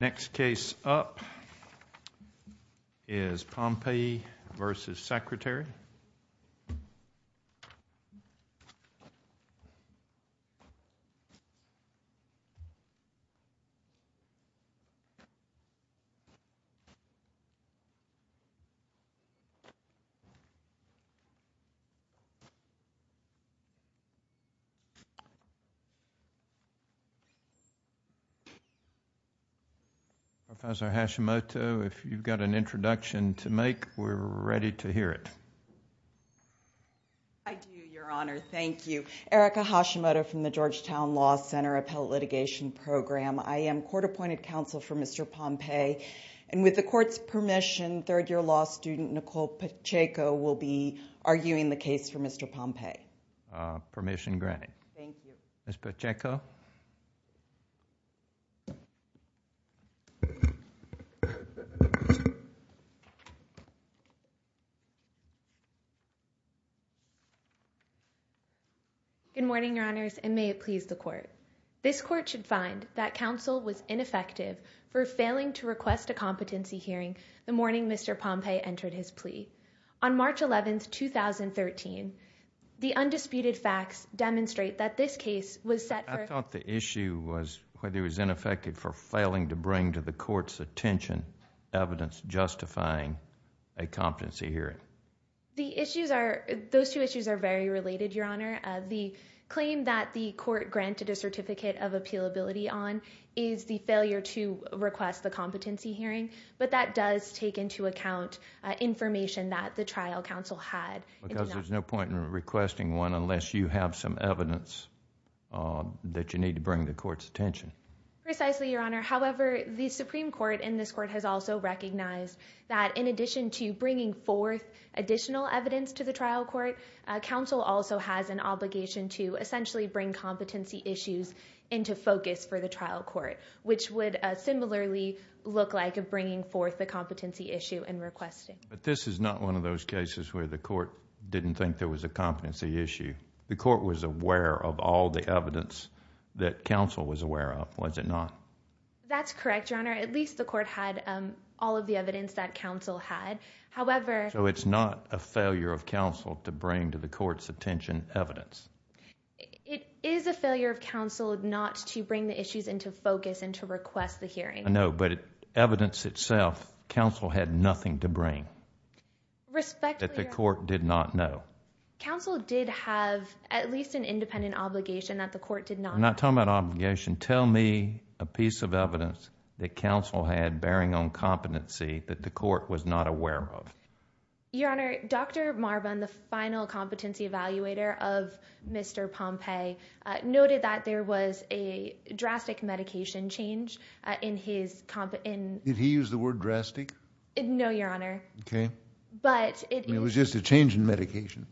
Next case up is Pompee v. Secretary Professor Hashimoto, if you've got an introduction to make, we're ready to hear it. I do, Your Honor. Thank you. Erica Hashimoto from the Georgetown Law Center Appellate Litigation Program. I am court-appointed counsel for Mr. Pompee, and with the court's permission, third-year law student Nicole Pacheco will be arguing the case for Mr. Pompee. Permission granted. Thank you. Ms. Pacheco. Good morning, Your Honors, and may it please the court. This court should find that counsel was ineffective for failing to request a competency hearing the morning Mr. Pompee entered his plea. On March 11, 2013, the undisputed facts demonstrate that this case was set for— I thought the issue was whether he was ineffective for failing to bring to the court's attention evidence justifying a competency hearing. The issues are—those two issues are very related, Your Honor. The claim that the court granted a certificate of appealability on is the failure to request the competency hearing, but that does take into account information that the trial counsel had. Because there's no point in requesting one unless you have some evidence that you need to bring to the court's attention. Precisely, Your Honor. However, the Supreme Court in this court has also recognized that in addition to bringing forth additional evidence to the trial court, counsel also has an obligation to essentially bring competency issues into focus for the trial court, which would similarly look like bringing forth the competency issue and requesting. But this is not one of those cases where the court didn't think there was a competency issue. The court was aware of all the evidence that counsel was aware of, was it not? That's correct, Your Honor. At least the court had all of the evidence that counsel had. However— So it's not a failure of counsel to bring to the court's attention evidence? It is a failure of counsel not to bring the issues into focus and to request the hearing. I know, but evidence itself, counsel had nothing to bring that the court did not know. Counsel did have at least an independent obligation that the court did not— I'm not talking about obligation. Tell me a piece of evidence that counsel had bearing on competency that the court was not aware of. Your Honor, Dr. Marvin, the final competency evaluator of Mr. Pompey, noted that there was a drastic medication change in his— Did he use the word drastic? No, Your Honor. Okay. It was just a change in medication.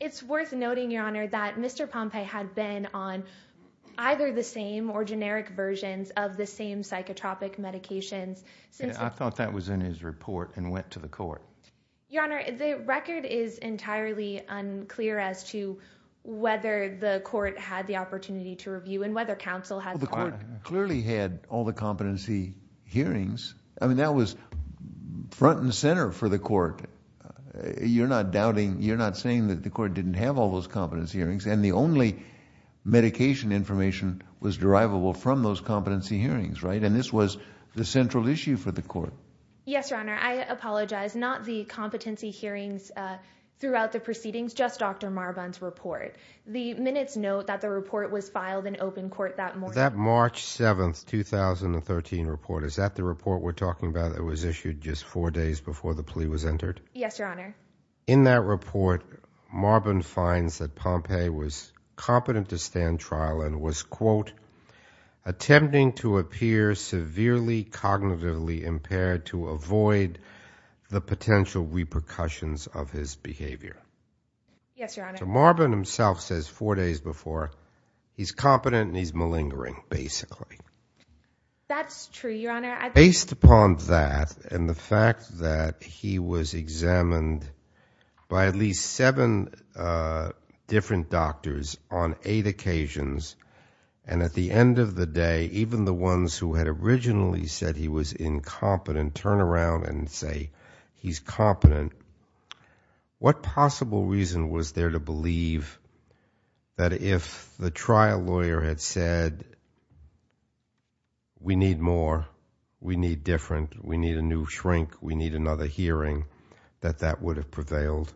It's worth noting, Your Honor, that Mr. Pompey had been on either the same or generic versions of the same psychotropic medications since— I thought that was in his report and went to the court. Your Honor, the record is entirely unclear as to whether the court had the opportunity to review and whether counsel had— The court clearly had all the competency hearings. I mean, that was front and center for the court. You're not doubting, you're not saying that the court didn't have all those competency hearings, and the only medication information was derivable from those competency hearings, Yes, Your Honor. I apologize. Not the competency hearings throughout the proceedings, just Dr. Marvin's report. The minutes note that the report was filed in open court that morning. That March 7th, 2013 report, is that the report we're talking about that was issued just four days before the plea was entered? Yes, Your Honor. In that report, Marvin finds that Pompey was competent to stand trial and was, quote, to avoid the potential repercussions of his behavior. Yes, Your Honor. Marvin himself says four days before, he's competent and he's malingering, basically. That's true, Your Honor. Based upon that and the fact that he was examined by at least seven different doctors on eight occasions, and at the end of the day, even the ones who had originally said he was incompetent turn around and say he's competent, what possible reason was there to believe that if the trial lawyer had said, we need more, we need different, we need a new shrink, we need another hearing, that that would have prevailed?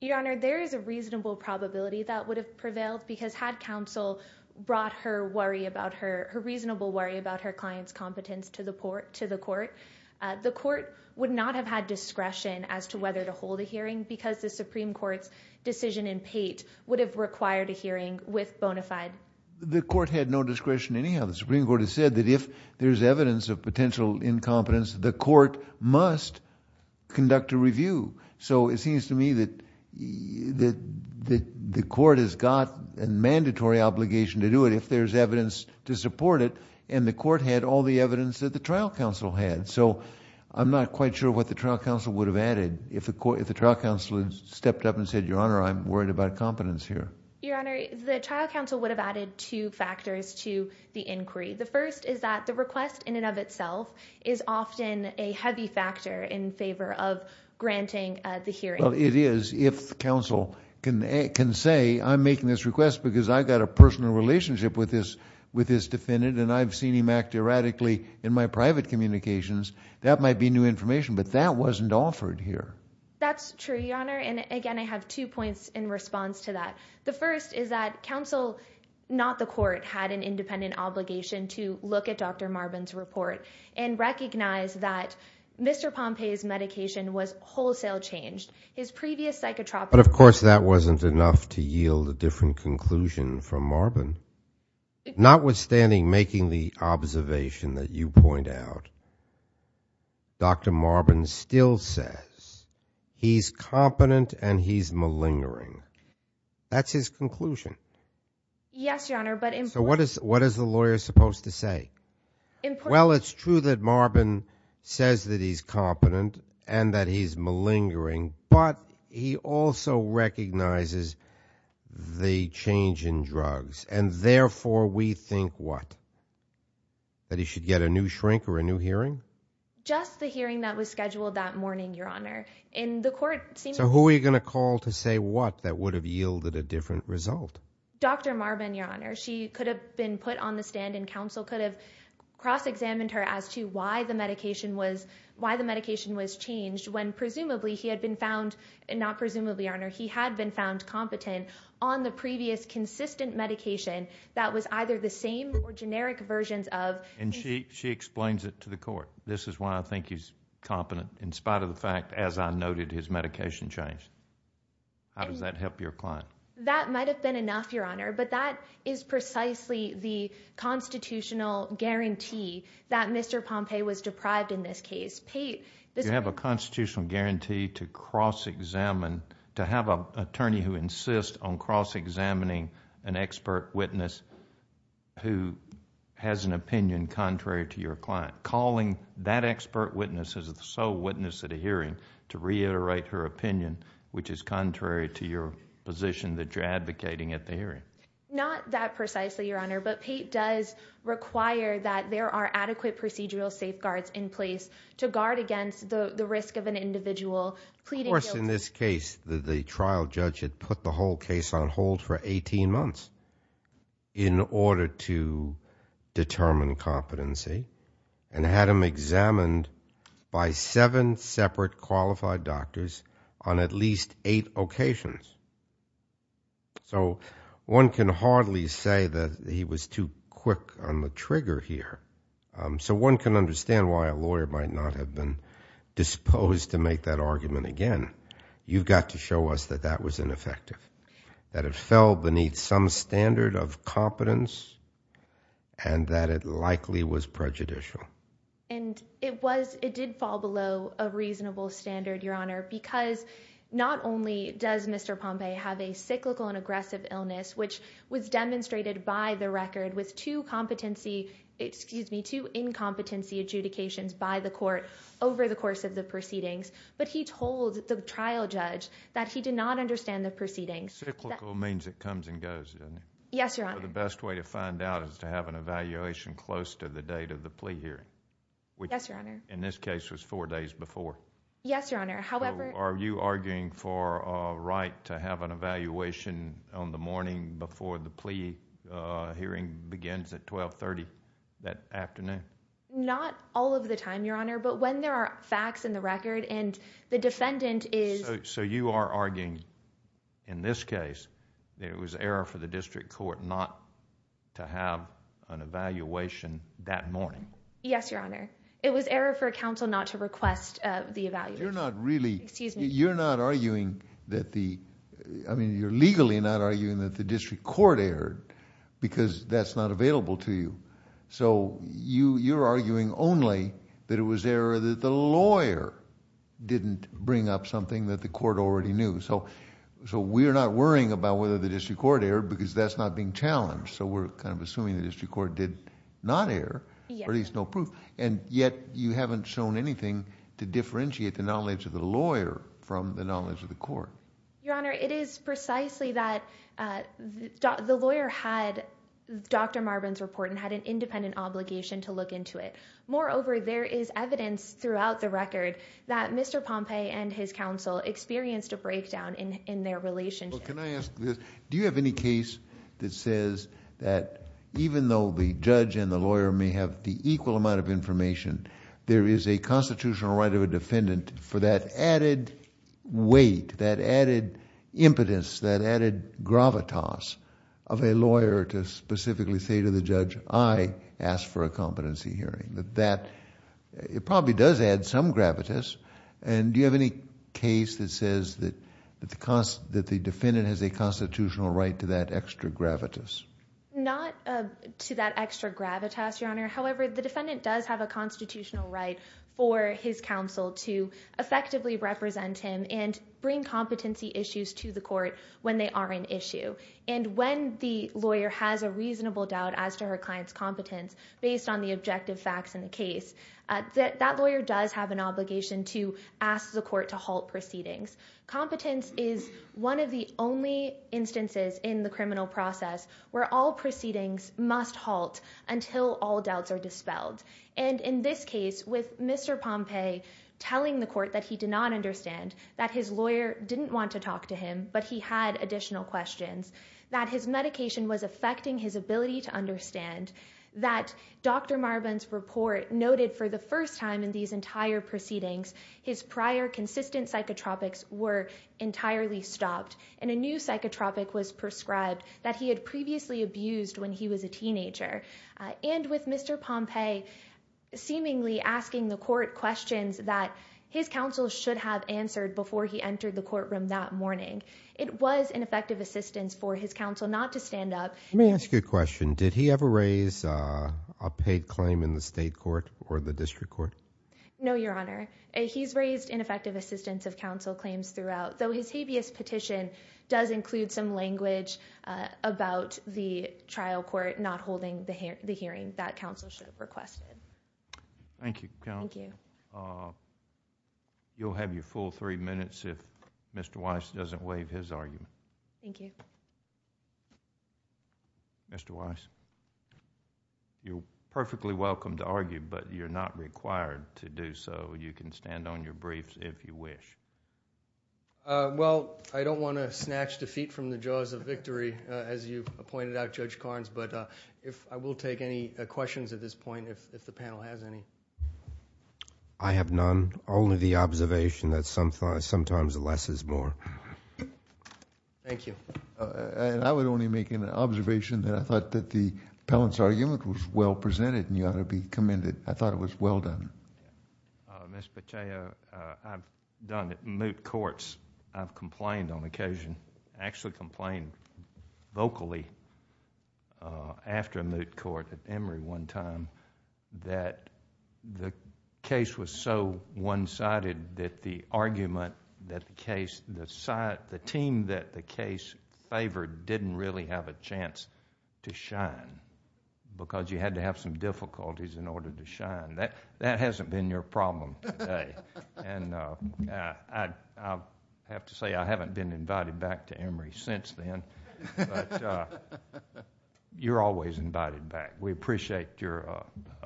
Your Honor, there is a reasonable probability that would have prevailed because had counsel brought her reasonable worry about her client's competence to the court, the court would not have had discretion as to whether to hold a hearing because the Supreme Court's decision in Pate would have required a hearing with bona fide. The court had no discretion anyhow. The Supreme Court has said that if there's evidence of potential incompetence, the court must conduct a review. It seems to me that the court has got a mandatory obligation to do it if there's evidence to support it and the court had all the evidence that the trial counsel had. I'm not quite sure what the trial counsel would have added if the trial counsel stepped up and said, Your Honor, I'm worried about competence here. Your Honor, the trial counsel would have added two factors to the inquiry. The first is that the request in and of itself is often a heavy factor in favor of granting the hearing. It is. If counsel can say, I'm making this request because I've got a personal relationship with this defendant and I've seen him act erratically in my private communications, that might be new information, but that wasn't offered here. That's true, Your Honor. Again, I have two points in response to that. The first is that counsel, not the court, had an independent obligation to look at Dr. Pompe's medication was wholesale changed. His previous psychotropic... But of course, that wasn't enough to yield a different conclusion from Marvin. Notwithstanding making the observation that you point out, Dr. Marvin still says he's competent and he's malingering. That's his conclusion. Yes, Your Honor, but... So what is the lawyer supposed to say? Well, it's true that Marvin says that he's competent and that he's malingering, but he also recognizes the change in drugs and therefore we think what? That he should get a new shrink or a new hearing? Just the hearing that was scheduled that morning, Your Honor. In the court... So who are you going to call to say what that would have yielded a different result? Dr. Marvin, Your Honor. She could have been put on the stand and counsel could have cross-examined her as to why the medication was changed when presumably he had been found... Not presumably, Your Honor. He had been found competent on the previous consistent medication that was either the same or generic versions of... And she explains it to the court. This is why I think he's competent in spite of the fact, as I noted, his medication change. How does that help your client? That might have been enough, Your Honor. But that is precisely the constitutional guarantee that Mr. Pompeo was deprived in this case. You have a constitutional guarantee to cross-examine, to have an attorney who insists on cross-examining an expert witness who has an opinion contrary to your client. Calling that expert witness as the sole witness at a hearing to reiterate her opinion, which is contrary to your position that you're advocating at the hearing. Not that precisely, Your Honor. But Pate does require that there are adequate procedural safeguards in place to guard against the risk of an individual pleading guilty... Of course, in this case, the trial judge had put the whole case on hold for 18 months in order to determine competency and had him examined by seven separate qualified doctors on at least eight occasions. So one can hardly say that he was too quick on the trigger here. So one can understand why a lawyer might not have been disposed to make that argument again. You've got to show us that that was ineffective. That it fell beneath some standard of competence and that it likely was prejudicial. And it did fall below a reasonable standard, Your Honor, because not only does Mr. Pompeo have a cyclical and aggressive illness, which was demonstrated by the record with two incompetency adjudications by the court over the course of the proceedings, but he told the trial judge that he did not understand the proceedings. Cyclical means it comes and goes, doesn't it? Yes, Your Honor. The best way to find out is to have an evaluation close to the date of the plea hearing. Yes, Your Honor. In this case, it was four days before. Yes, Your Honor, however... Are you arguing for a right to have an evaluation on the morning before the plea hearing begins at 1230 that afternoon? Not all of the time, Your Honor, but when there are facts in the record and the defendant is... So you are arguing in this case that it was error for the district court not to have an evaluation that morning? Yes, Your Honor. It was error for counsel not to request the evaluation. You're not really... Excuse me. You're not arguing that the... I mean, you're legally not arguing that the district court erred because that's not available to you. So you're arguing only that it was error that the lawyer didn't bring up something that the court already knew. So we're not worrying about whether the district court erred because that's not being challenged. So we're kind of assuming the district court did not err, or at least no proof, and yet you haven't shown anything to differentiate the knowledge of the lawyer from the knowledge of the court. Your Honor, it is precisely that the lawyer had Dr. Marvin's report and had an independent obligation to look into it. Moreover, there is evidence throughout the record that Mr. Pompe and his counsel experienced a breakdown in their relationship. Well, can I ask this? Do you have any case that says that even though the judge and the lawyer may have the equal amount of information, there is a constitutional right of a defendant for that added weight, that added impotence, that added gravitas of a lawyer to specifically say to the judge, I asked for a competency hearing. It probably does add some gravitas. Do you have any case that says that the defendant has a constitutional right to that extra gravitas? Not to that extra gravitas, Your Honor. However, the defendant does have a constitutional right for his counsel to effectively represent him and bring competency issues to the court when they are an issue. When the lawyer has a reasonable doubt as to her client's competence based on the objective facts in the case, that lawyer does have an obligation to ask the court to halt proceedings. Competence is one of the only instances in the criminal process where all proceedings must halt until all doubts are dispelled. In this case, with Mr. Pompe telling the court that he did not understand, that his lawyer didn't want to talk to him, but he had additional questions, that his medication was affecting his ability to understand, that Dr. Marvin's report noted for the first time in these entire proceedings, his prior consistent psychotropics were entirely stopped, and a new psychotropic was prescribed that he had previously abused when he was a teenager, and with Mr. Pompe seemingly asking the court questions that his counsel should have answered before he entered the courtroom that morning. It was an effective assistance for his counsel not to stand up. Let me ask you a question. Did he ever raise a paid claim in the state court or the district court? No, Your Honor. He's raised ineffective assistance of counsel claims throughout, though his habeas petition does include some language about the trial court not holding the hearing that counsel should have requested. Thank you. You'll have your full three minutes if Mr. Weiss doesn't waive his argument. Thank you. Mr. Weiss, you're perfectly welcome to argue, but you're not required to do so. You can stand on your briefs if you wish. Well, I don't want to snatch defeat from the jaws of victory, as you pointed out, but I will take any questions at this point if the panel has any. I have none. Only the observation that sometimes less is more. Thank you. I would only make an observation that I thought that the Pellant's argument was well presented, and you ought to be commended. I thought it was well done. Mr. Pacheco, I've done it in moot courts. I've complained on occasion. I actually complained vocally after a moot court at Emory one time that the case was so one-sided that the argument that the team that the case favored didn't really have a chance to shine because you had to have some difficulties in order to shine. That hasn't been your problem today. I have to say I haven't been invited back to Emory since then, but you're always invited back. We appreciate your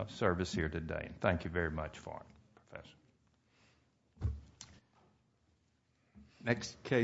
service here today. Thank you very much for it. Next case.